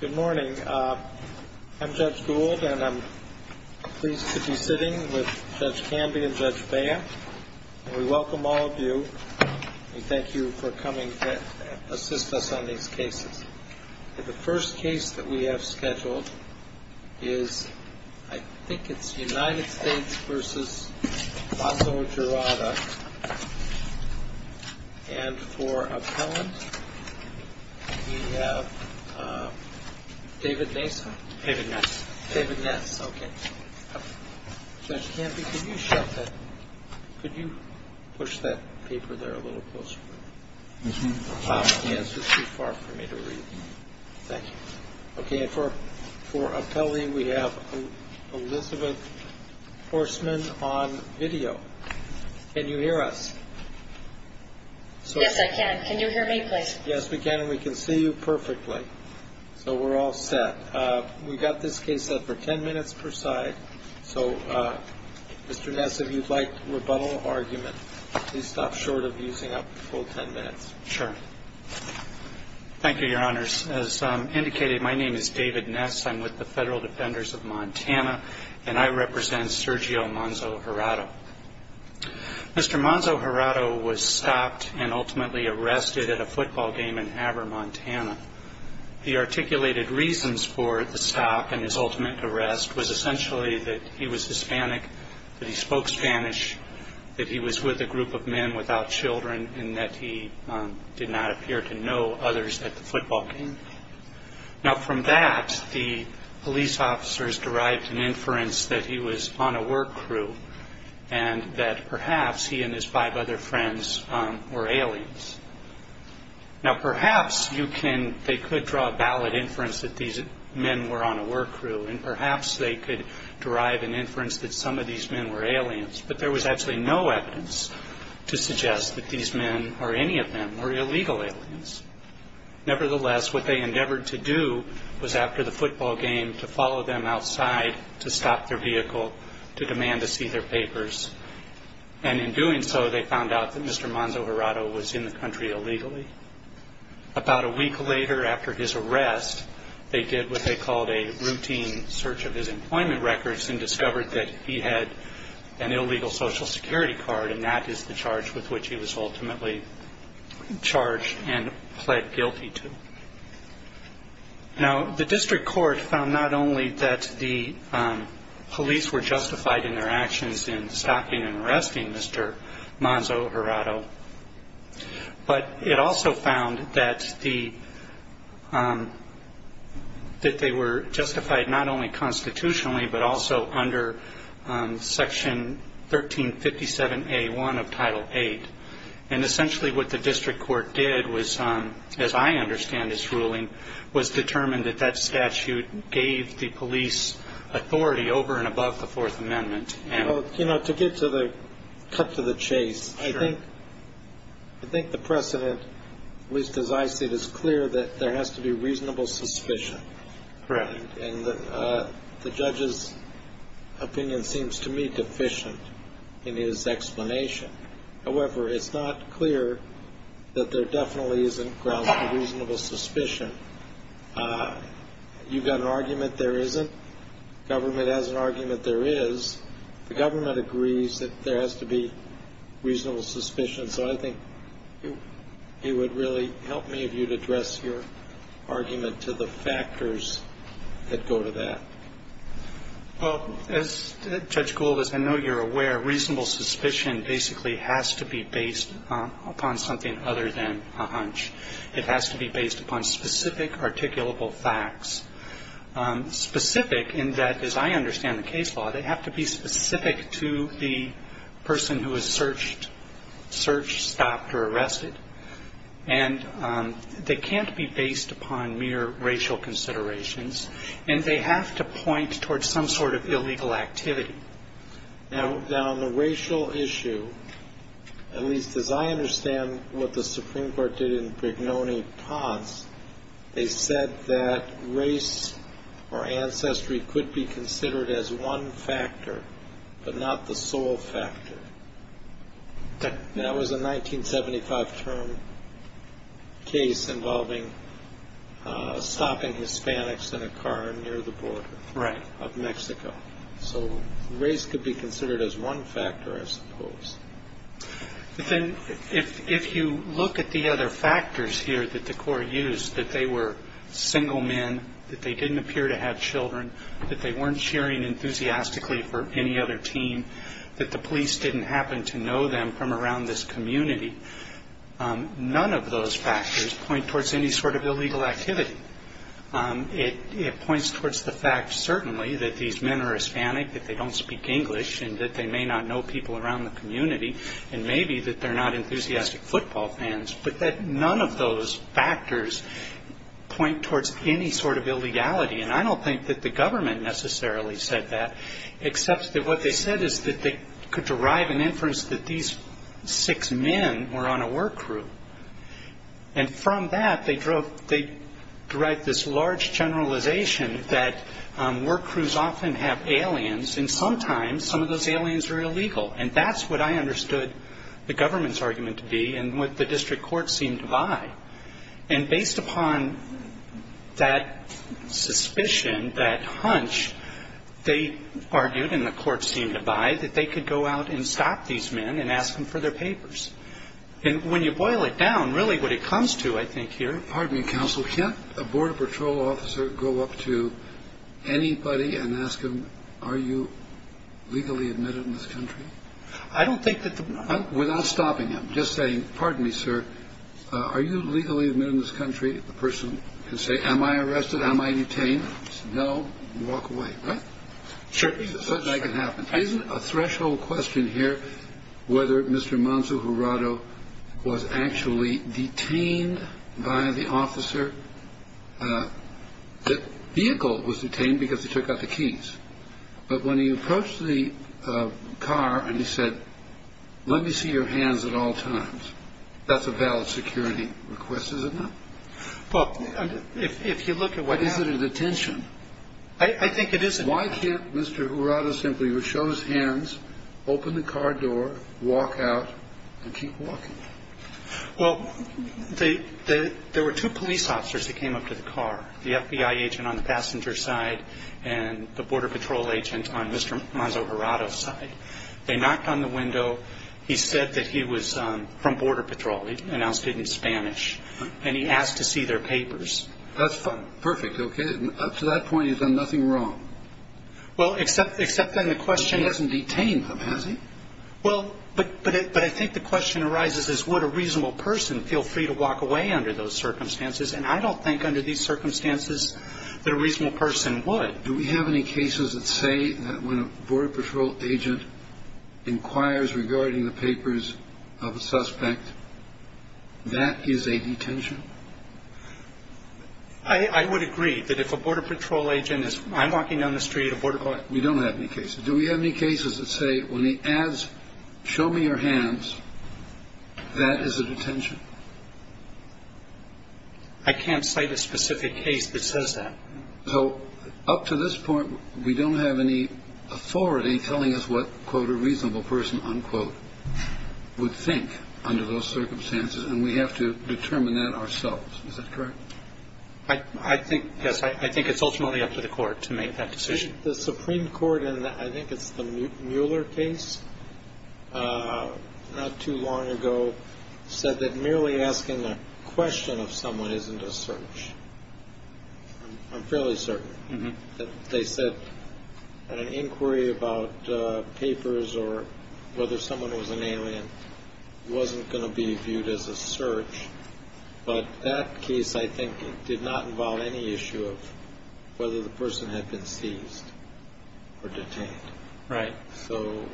Good morning. I'm Judge Gould and I'm pleased to be sitting with Judge Camby and Judge Bea. We welcome all of you and thank you for coming to assist us on these cases. The first case that we have scheduled is I think it's United States v. Manzo-Jurado. And for appellant, we have David Ness. David Ness. David Ness, okay. Judge Camby, could you shut that? Could you push that paper there a little closer? This one? Yes, it's too far for me to read. Thank you. Okay, and for appellee, we have Elizabeth Horstman on video. Can you hear us? Yes, I can. Can you hear me, please? Yes, we can and we can see you perfectly. So we're all set. We've got this case set for ten minutes per side. So, Mr. Ness, if you'd like rebuttal or argument, please stop short of using up the full ten minutes. Sure. Thank you, Your Honors. As indicated, my name is David Ness. I'm with the Federal Defenders of Montana and I represent Sergio Manzo-Jurado. Mr. Manzo-Jurado was stopped and ultimately arrested at a football game in Haber, Montana. The articulated reasons for the stop and his ultimate arrest was essentially that he was Hispanic, that he spoke Spanish, that he was with a group of men without children, and that he did not appear to know others at the football game. Now, from that, the police officers derived an inference that he was on a work crew and that perhaps he and his five other friends were aliens. Now, perhaps they could draw a valid inference that these men were on a work crew and perhaps they could derive an inference that some of these men were aliens, but there was actually no evidence to suggest that these men or any of them were illegal aliens. Nevertheless, what they endeavored to do was, after the football game, to follow them outside to stop their vehicle to demand to see their papers. And in doing so, they found out that Mr. Manzo-Jurado was in the country illegally. About a week later, after his arrest, they did what they called a routine search of his employment records and discovered that he had an illegal Social Security card, and that is the charge with which he was ultimately charged and pled guilty to. Now, the district court found not only that the police were justified in their actions in stopping and arresting Mr. Manzo-Jurado, but it also found that they were justified not only constitutionally, but also under Section 1357A1 of Title VIII. And essentially what the district court did was, as I understand this ruling, was determine that that statute gave the police authority over and above the Fourth Amendment. You know, to get to the cut to the chase, I think the precedent, at least as I see it, is clear that there has to be reasonable suspicion. Correct. And the judge's opinion seems to me deficient in his explanation. However, it's not clear that there definitely isn't grounds for reasonable suspicion. You've got an argument there isn't. The government has an argument there is. The government agrees that there has to be reasonable suspicion. So I think it would really help me if you'd address your argument to the factors that go to that. Well, as Judge Gould has been aware, reasonable suspicion basically has to be based upon something other than a hunch. It has to be based upon specific articulable facts. Specific in that, as I understand the case law, they have to be specific to the person who was searched, searched, stopped, or arrested. And they can't be based upon mere racial considerations. And they have to point towards some sort of illegal activity. Now, on the racial issue, at least as I understand what the Supreme Court did in Brignone-Todds, they said that race or ancestry could be considered as one factor, but not the sole factor. That was a 1975 term case involving stopping Hispanics in a car near the border of Mexico. So race could be considered as one factor, I suppose. If you look at the other factors here that the court used, that they were single men, that they didn't appear to have children, that they weren't cheering enthusiastically for any other team, that the police didn't happen to know them from around this community, none of those factors point towards any sort of illegal activity. It points towards the fact, certainly, that these men are Hispanic, that they don't speak English, and that they may not know people around the community, and maybe that they're not enthusiastic football fans, but that none of those factors point towards any sort of illegality. And I don't think that the government necessarily said that, except that what they said is that they could derive an inference that these six men were on a work crew. And from that, they derived this large generalization that work crews often have aliens, and sometimes some of those aliens are illegal. And that's what I understood the government's argument to be and what the district court seemed to buy. And based upon that suspicion, that hunch, they argued, and the court seemed to buy, that they could go out and stop these men and ask them for their papers. And when you boil it down, really what it comes to, I think, here- Pardon me, counsel. Can't a border patrol officer go up to anybody and ask them, are you legally admitted in this country? I don't think that the- Without stopping them. Just saying, pardon me, sir, are you legally admitted in this country? The person can say, am I arrested? Am I detained? No. Walk away. Right? Sure. Isn't a threshold question here whether Mr. Manzo Jurado was actually detained by the officer? The vehicle was detained because they took out the keys. But when he approached the car and he said, let me see your hands at all times, that's a valid security request, is it not? Well, if you look at what happened- But is it a detention? I think it is a- Why can't Mr. Jurado simply show his hands, open the car door, walk out, and keep walking? Well, there were two police officers that came up to the car, the FBI agent on the passenger side and the border patrol agent on Mr. Manzo Jurado's side. They knocked on the window. He said that he was from Border Patrol. He announced it in Spanish. And he asked to see their papers. That's fine. Perfect. Okay. Up to that point, you've done nothing wrong. Well, except then the question- He hasn't detained them, has he? Well, but I think the question arises is would a reasonable person feel free to walk away under those circumstances? And I don't think under these circumstances that a reasonable person would. Do we have any cases that say that when a Border Patrol agent inquires regarding the papers of a suspect, that is a detention? I would agree that if a Border Patrol agent is walking down the street- We don't have any cases. Do we have any cases that say when he asks, show me your hands, that is a detention? I can't cite a specific case that says that. So up to this point, we don't have any authority telling us what, quote, would think under those circumstances. And we have to determine that ourselves. Is that correct? Yes, I think it's ultimately up to the court to make that decision. The Supreme Court in I think it's the Mueller case not too long ago said that merely asking a question of someone isn't a search. I'm fairly certain. They said an inquiry about papers or whether someone was an alien wasn't going to be viewed as a search. But that case, I think, did not involve any issue of whether the person had been seized or detained. Right. So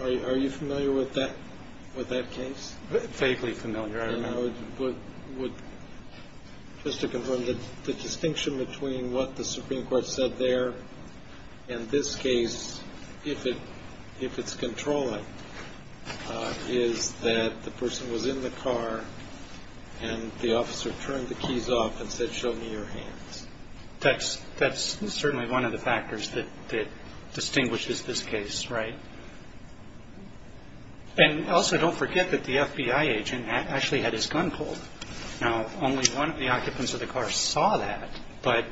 are you familiar with that with that case? Safely familiar. I would just to confirm that the distinction between what the Supreme Court said there and this case, if it if it's controlling, is that the person was in the car and the officer turned the keys off and said, show me your hands. That's that's certainly one of the factors that distinguishes this case. Right. And also, don't forget that the FBI agent actually had his gun pulled. Now, only one of the occupants of the car saw that. But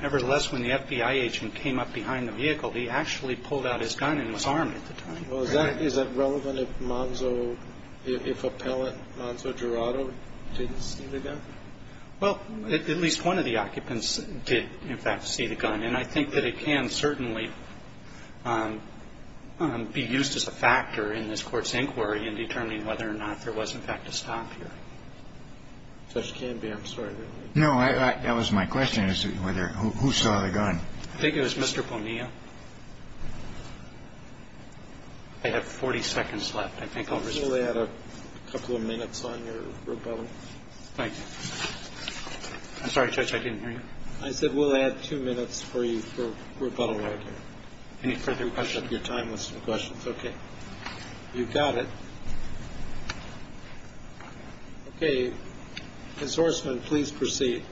nevertheless, when the FBI agent came up behind the vehicle, he actually pulled out his gun and was armed at the time. Well, is that relevant if Monzo, if appellate Monzo Jurado didn't see the gun? Well, at least one of the occupants did, in fact, see the gun. And I think that it can certainly be used as a factor in this Court's inquiry in determining whether or not there was, in fact, a stop here. Judge Canby, I'm sorry. No, that was my question as to whether who saw the gun. I think it was Mr. Ponia. I have 40 seconds left. I think I'll respond. We'll add a couple of minutes on your rebuttal. Thank you. I'm sorry, Judge, I didn't hear you. I said we'll add two minutes for you for rebuttal right here. Any further questions? Your time was for questions. Okay. You've got it. Okay. Ms. Horstman, please proceed.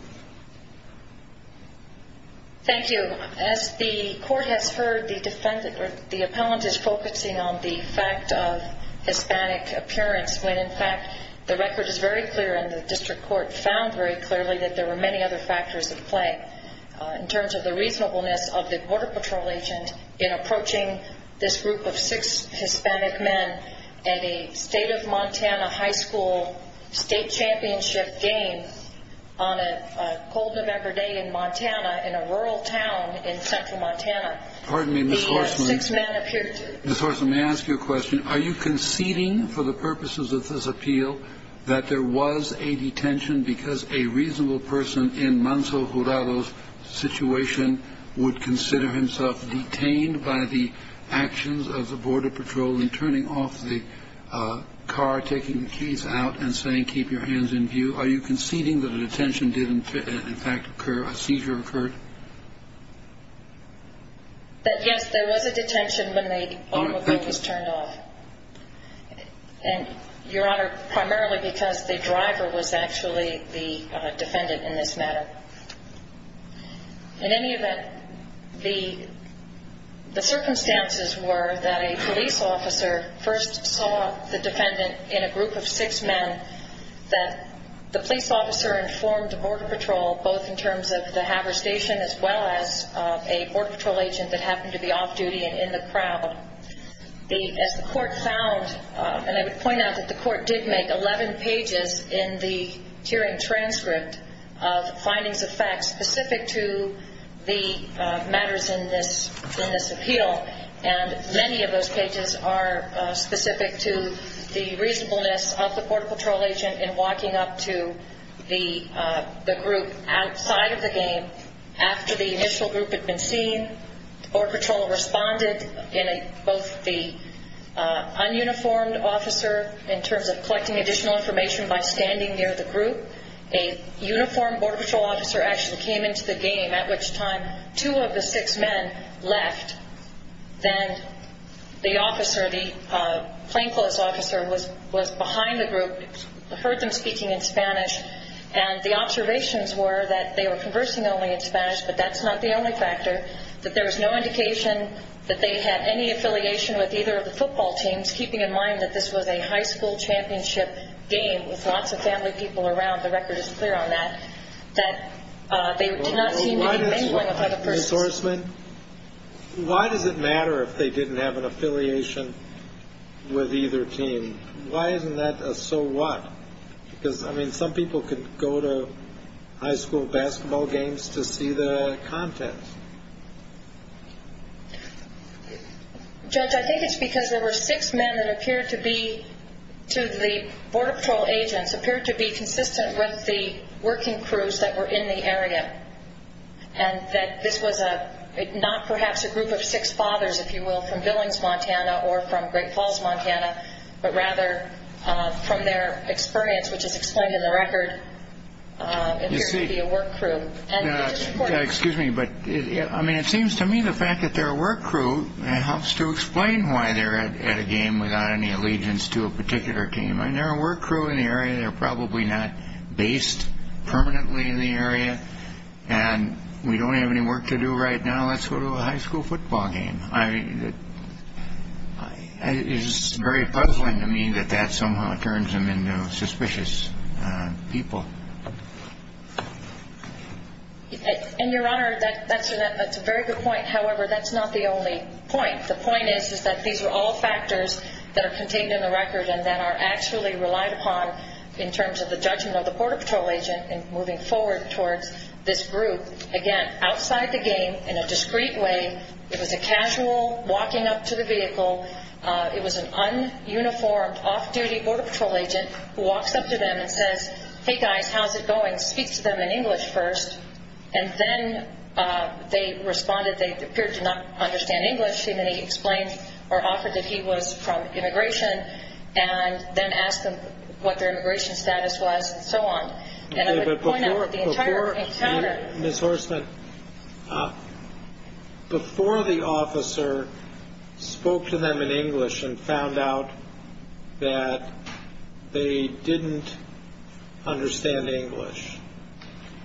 Thank you. As the Court has heard, the defendant or the appellant is focusing on the fact of Hispanic appearance, when, in fact, the record is very clear and the district court found very clearly that there were many other factors at play. In terms of the reasonableness of the Border Patrol agent in approaching this group of six Hispanic men at a State of Montana high school state championship game on a cold November day in Montana in a rural town in central Montana. Pardon me, Ms. Horstman. He had six men appear to him. Ms. Horstman, may I ask you a question? Are you conceding for the purposes of this appeal that there was a detention because a reasonable person in Manso Jurado's situation would consider himself detained by the actions of the Border Patrol in turning off the car, taking the keys out, and saying, keep your hands in view? Are you conceding that a detention did, in fact, occur, a seizure occurred? That, yes, there was a detention when the automobile was turned off. And, Your Honor, primarily because the driver was actually the defendant in this matter. In any event, the circumstances were that a police officer first saw the defendant in a group of six men, that the police officer informed the Border Patrol, both in terms of the haversation as well as a Border Patrol agent that happened to be off duty and in the crowd. As the court found, and I would point out that the court did make 11 pages in the hearing transcript of findings of facts specific to the matters in this appeal, and many of those pages are specific to the reasonableness of the Border Patrol agent in walking up to the group outside of the game. After the initial group had been seen, the Border Patrol responded in both the un-uniformed officer in terms of collecting additional information by standing near the group. A uniformed Border Patrol officer actually came into the game, at which time two of the six men left. Then the officer, the plainclothes officer, was behind the group, heard them speaking in Spanish, and the observations were that they were conversing only in Spanish, but that's not the only factor, that there was no indication that they had any affiliation with either of the football teams, keeping in mind that this was a high school championship game with lots of family people around, the record is clear on that, that they did not seem to be mingling with other persons. Why does it matter if they didn't have an affiliation with either team? Why isn't that a so what? Because, I mean, some people could go to high school basketball games to see the content. Judge, I think it's because there were six men that appeared to be, to the Border Patrol agents, appeared to be consistent with the working crews that were in the area, and that this was not perhaps a group of six fathers, if you will, from Billings, Montana, or from Great Falls, Montana, but rather from their experience, which is explained in the record, appeared to be a work crew. Excuse me, but it seems to me the fact that they're a work crew helps to explain why they're at a game without any allegiance to a particular team. I mean, they're a work crew in the area. They're probably not based permanently in the area, and we don't have any work to do right now. Let's go to a high school football game. I mean, it's very puzzling to me that that somehow turns them into suspicious people. And, Your Honor, that's a very good point. However, that's not the only point. The point is that these are all factors that are contained in the record and that are actually relied upon in terms of the judgment of the Border Patrol agent in moving forward towards this group. Again, outside the game, in a discreet way, it was a casual walking up to the vehicle. It was an un-uniformed, off-duty Border Patrol agent who walks up to them and says, hey, guys, how's it going, speaks to them in English first. And then they responded they appeared to not understand English, and then he explained or offered that he was from immigration and then asked them what their immigration status was and so on. And I would point out that the entire encounter. Ms. Horstman, before the officer spoke to them in English and found out that they didn't understand English,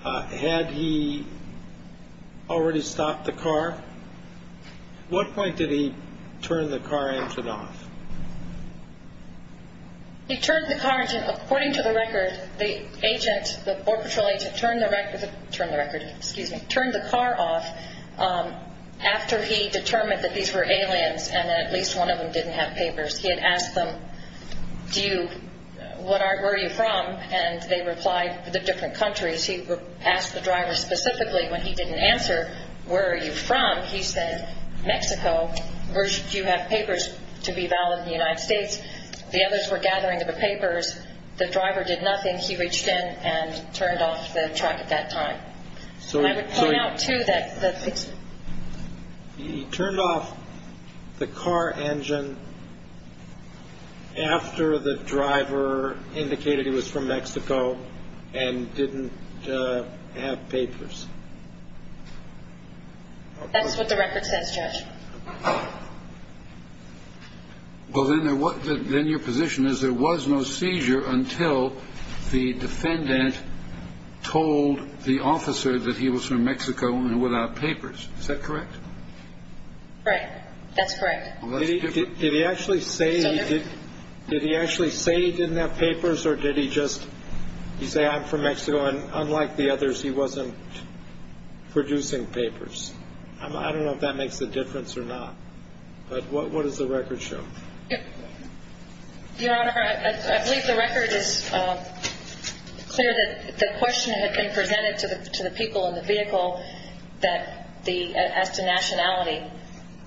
had he already stopped the car? At what point did he turn the car engine off? He turned the car engine off. According to the record, the agent, the Border Patrol agent, turned the record off after he determined that these were aliens and that at least one of them didn't have papers. He had asked them, where are you from? And they replied, the different countries. He asked the driver specifically when he didn't answer, where are you from? He said, Mexico. Do you have papers to be valid in the United States? The others were gathering the papers. The driver did nothing. He reached in and turned off the truck at that time. I would point out, too, that he turned off the car engine after the driver indicated he was from Mexico and didn't have papers. That's what the record says, Judge. Well, then your position is there was no seizure until the defendant told the officer that he was from Mexico and without papers. Is that correct? Right. That's correct. Did he actually say he didn't have papers or did he just say, I'm from Mexico, and unlike the others, he wasn't producing papers? I don't know if that makes a difference or not, but what does the record show? Your Honor, I believe the record is clear that the question had been presented to the people in the vehicle as to nationality.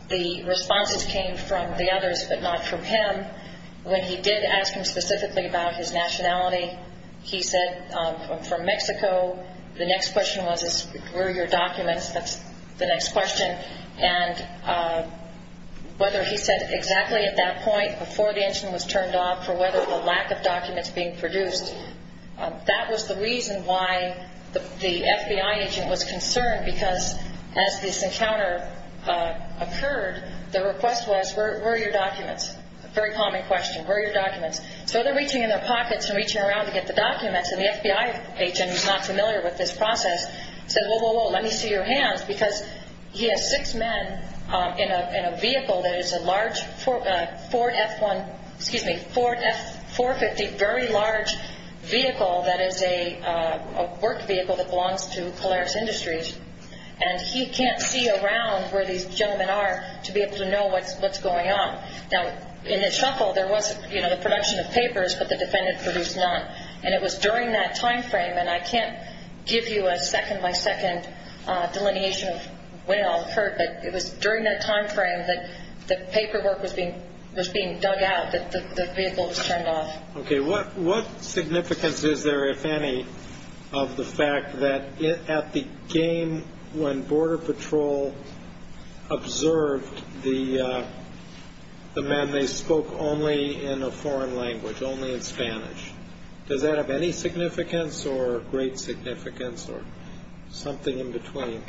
The responses came from the others but not from him. When he did ask him specifically about his nationality, he said, I'm from Mexico. The next question was, where are your documents? That's the next question. And whether he said exactly at that point before the engine was turned off for whether the lack of documents being produced, that was the reason why the FBI agent was concerned because as this encounter occurred, the request was, where are your documents? A very common question, where are your documents? So they're reaching in their pockets and reaching around to get the documents, and the FBI agent, who's not familiar with this process, said, whoa, whoa, whoa, let me see your hands, because he has six men in a vehicle that is a large Ford F-150, very large vehicle that is a work vehicle that belongs to Polaris Industries, and he can't see around where these gentlemen are to be able to know what's going on. Now, in the shuffle, there was the production of papers, but the defendant produced none, and it was during that time frame, and I can't give you a second-by-second delineation of when it all occurred, but it was during that time frame that the paperwork was being dug out, that the vehicle was turned off. Okay. What significance is there, if any, of the fact that at the game, when Border Patrol observed the men, they spoke only in a foreign language, only in Spanish. Does that have any significance or great significance or something in between?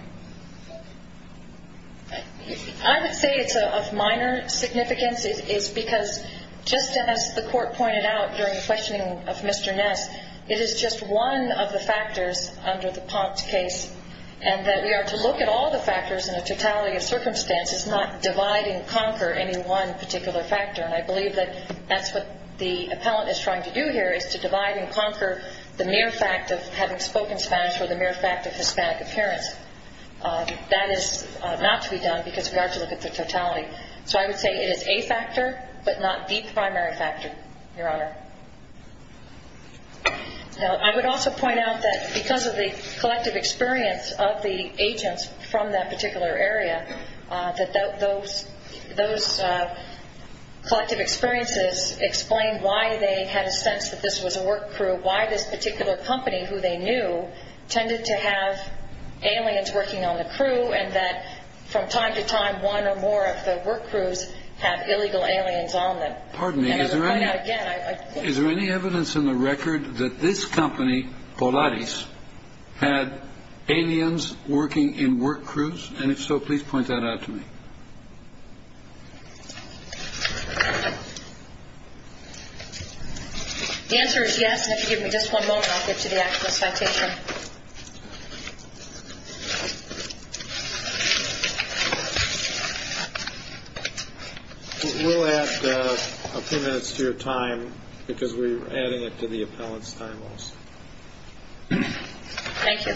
I would say it's of minor significance. It's because just as the court pointed out during the questioning of Mr. Ness, it is just one of the factors under the Ponce case, and that we are to look at all the factors in a totality of circumstances, not divide and conquer any one particular factor, and I believe that that's what the appellant is trying to do here is to divide and conquer the mere fact of having spoken Spanish or the mere fact of Hispanic appearance. That is not to be done because we are to look at the totality. So I would say it is a factor but not the primary factor, Your Honor. I would also point out that because of the collective experience of the agents from that particular area, that those collective experiences explain why they had a sense that this was a work crew, why this particular company, who they knew, tended to have aliens working on the crew, and that from time to time, one or more of the work crews have illegal aliens on them. Pardon me. Is there any evidence in the record that this company, Polaris, had aliens working in work crews? And if so, please point that out to me. The answer is yes, and if you give me just one moment, I'll get to the actual citation. We'll add a few minutes to your time because we're adding it to the appellant's time loss. Thank you.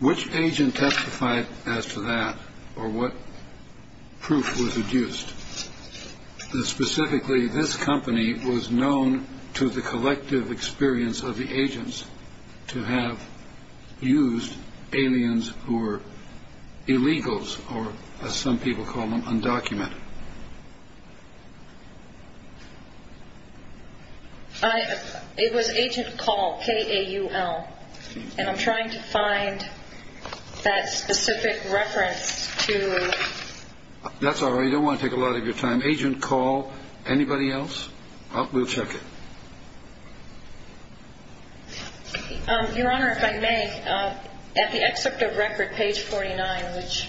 Which agent testified as to that or what proof was used? Specifically, this company was known to the collective experience of the agents to have used aliens who were illegals or, as some people call them, undocumented. It was Agent Call, K-A-U-L, and I'm trying to find that specific reference to… That's all right. I don't want to take a lot of your time. Agent Call. Anybody else? We'll check it. Your Honor, if I may, at the excerpt of record, page 49, which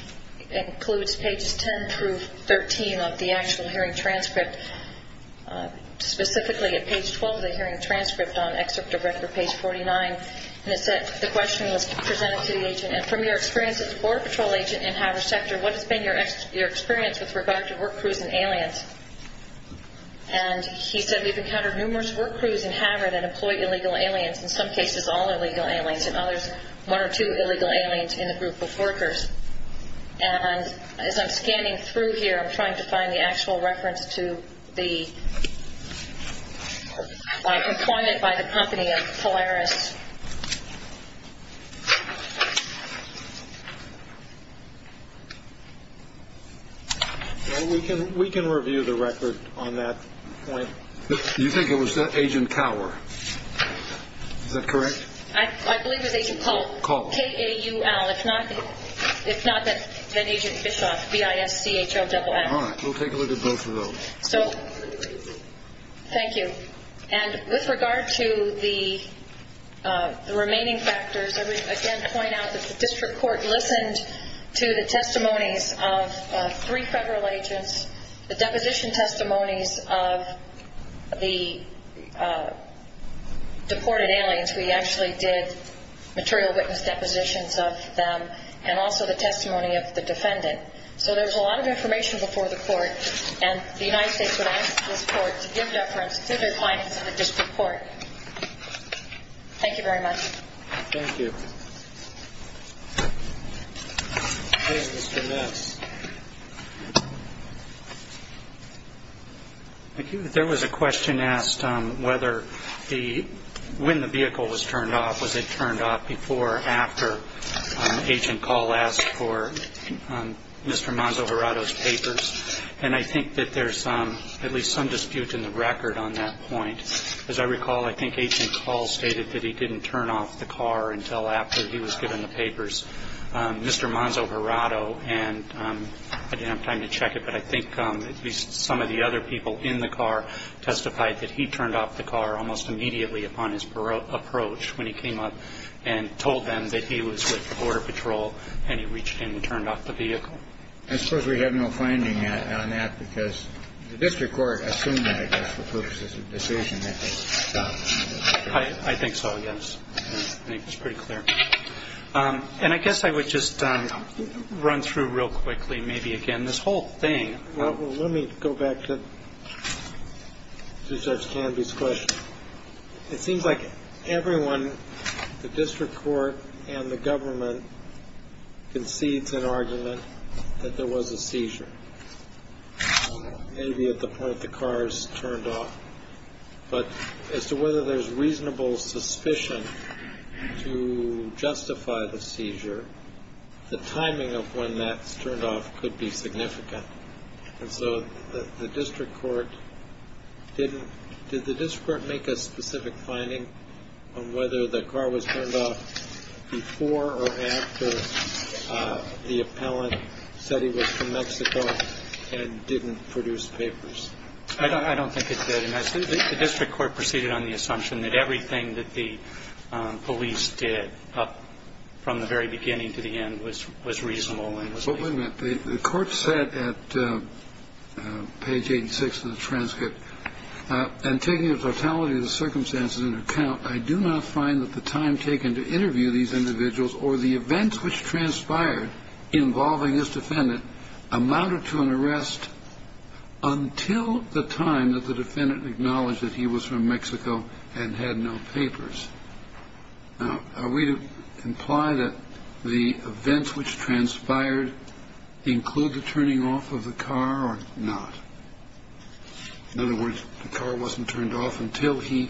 includes pages 10 through 13 of the actual hearing transcript, specifically at page 12 of the hearing transcript on excerpt of record, page 49, the question was presented to the agent, and from your experience as a Border Patrol agent in Havre sector, what has been your experience with regard to work crews and aliens? And he said, We've encountered numerous work crews in Havre that employ illegal aliens, in some cases all illegal aliens, and others one or two illegal aliens in the group of workers. And as I'm scanning through here, I'm trying to find the actual reference to the employment by the company of Polaris. Well, we can review the record on that point. You think it was Agent Cower? Is that correct? I believe it was Agent Call. Call. K-A-U-L. If not, then Agent Bischoff, B-I-S-C-H-O-A-X. All right. We'll take a look at both of those. Thank you. And with regard to the remaining factors, I would again point out that the district court listened to the testimonies of three federal agents. The deposition testimonies of the deported aliens, we actually did material witness depositions of them, and also the testimony of the defendant. So there was a lot of information before the court, and the United States would ask this court to give reference to their clients in the district court. Thank you very much. Thank you. Okay, Mr. Metz. Thank you. There was a question asked whether when the vehicle was turned off, was it turned off before or after Agent Call asked for Mr. Manzo-Gerato's papers. And I think that there's at least some dispute in the record on that point. As I recall, I think Agent Call stated that he didn't turn off the car until after he was given the papers. Mr. Manzo-Gerato, and I didn't have time to check it, but I think at least some of the other people in the car testified that he turned off the car almost immediately upon his approach when he came up and told them that he was with Border Patrol, and he reached in and turned off the vehicle. I suppose we have no finding on that because the district court assumed that, I guess, for purposes of decision that they stopped. I think so, yes. I think it's pretty clear. And I guess I would just run through real quickly maybe again this whole thing. Well, let me go back to Judge Canby's question. It seems like everyone, the district court and the government, concedes an argument that there was a seizure, maybe at the point the car is turned off. But as to whether there's reasonable suspicion to justify the seizure, the timing of when that's turned off could be significant. And so the district court didn't – did the district court make a specific finding on whether the car was turned off before or after the appellant said he was from Mexico and didn't produce papers? I don't think it did. The district court proceeded on the assumption that everything that the police did from the very beginning to the end was reasonable and was reasonable. But wait a minute. The court said at page 86 of the transcript, and taking the totality of the circumstances into account, I do not find that the time taken to interview these individuals or the events which transpired involving this defendant amounted to an arrest until the time that the defendant acknowledged that he was from Mexico and had no papers. Now, are we to imply that the events which transpired include the turning off of the car or not? In other words, the car wasn't turned off until he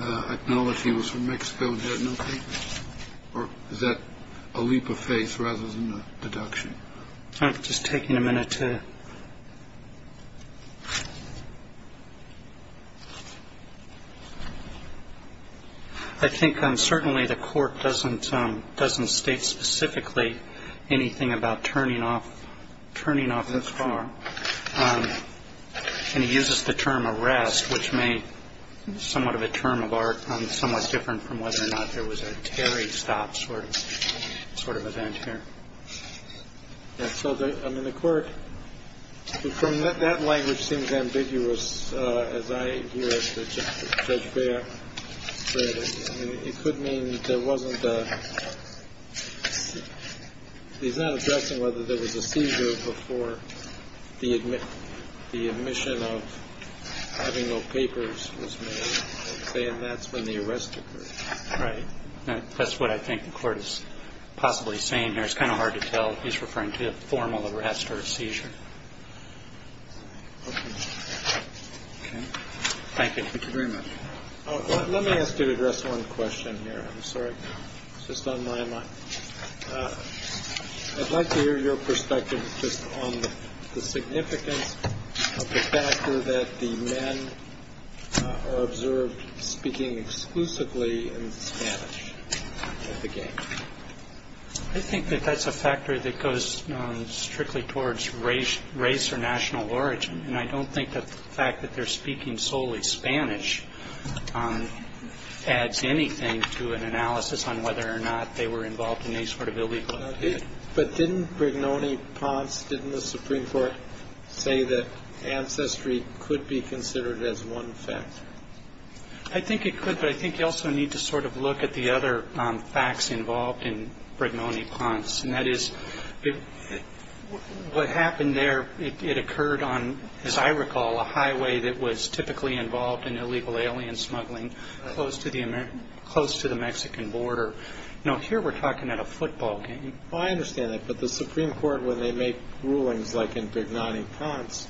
acknowledged he was from Mexico and had no papers? Or is that a leap of faith rather than a deduction? Just taking a minute to – I think certainly the court doesn't state specifically anything about turning off the car. And he uses the term arrest, which may somewhat of a term of art, somewhat different from whether or not there was a Terry stop sort of event here. So, I mean, the court, from that language, seems ambiguous. As I hear it, Judge Baird, it could mean there wasn't a – he's not addressing whether there was a seizure before the admission of having no papers was made. He's saying that's when the arrest occurred. Right. That's what I think the court is possibly saying here. It's kind of hard to tell if he's referring to a formal arrest or a seizure. Thank you. Thank you very much. Let me ask you to address one question here. I'm sorry. It's just on my mind. I'd like to hear your perspective just on the significance of the factor that the men are observed speaking exclusively in Spanish at the game. I think that that's a factor that goes strictly towards race or national origin. And I don't think the fact that they're speaking solely Spanish adds anything to an analysis on whether or not they were involved in any sort of illegal activity. But didn't Brignone-Ponce, didn't the Supreme Court say that ancestry could be considered as one factor? I think it could, but I think you also need to sort of look at the other facts involved in Brignone-Ponce. And that is, what happened there, it occurred on, as I recall, a highway that was typically involved in illegal alien smuggling close to the Mexican border. Here we're talking about a football game. I understand that. But the Supreme Court, when they make rulings like in Brignone-Ponce,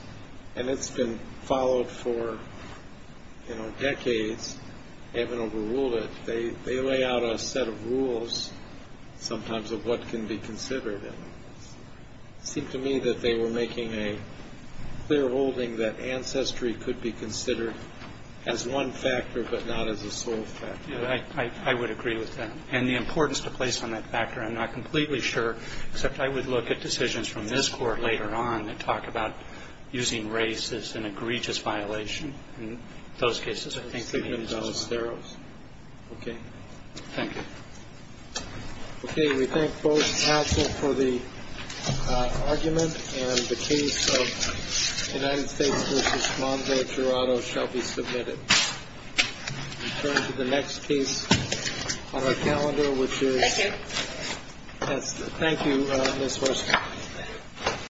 and it's been followed for decades, they haven't overruled it. They lay out a set of rules sometimes of what can be considered. It seemed to me that they were making a clear holding that ancestry could be considered as one factor, but not as a sole factor. I would agree with that. And the importance to place on that factor, I'm not completely sure, except I would look at decisions from this Court later on that talk about using race as an egregious violation. In those cases, I think that it is most thorough. Okay. Thank you. Okay. We thank both counsel for the argument. And the case of United States v. Mondeo-Toronto shall be submitted. We turn to the next case on our calendar, which is the second. Thank you, Ms. Horst.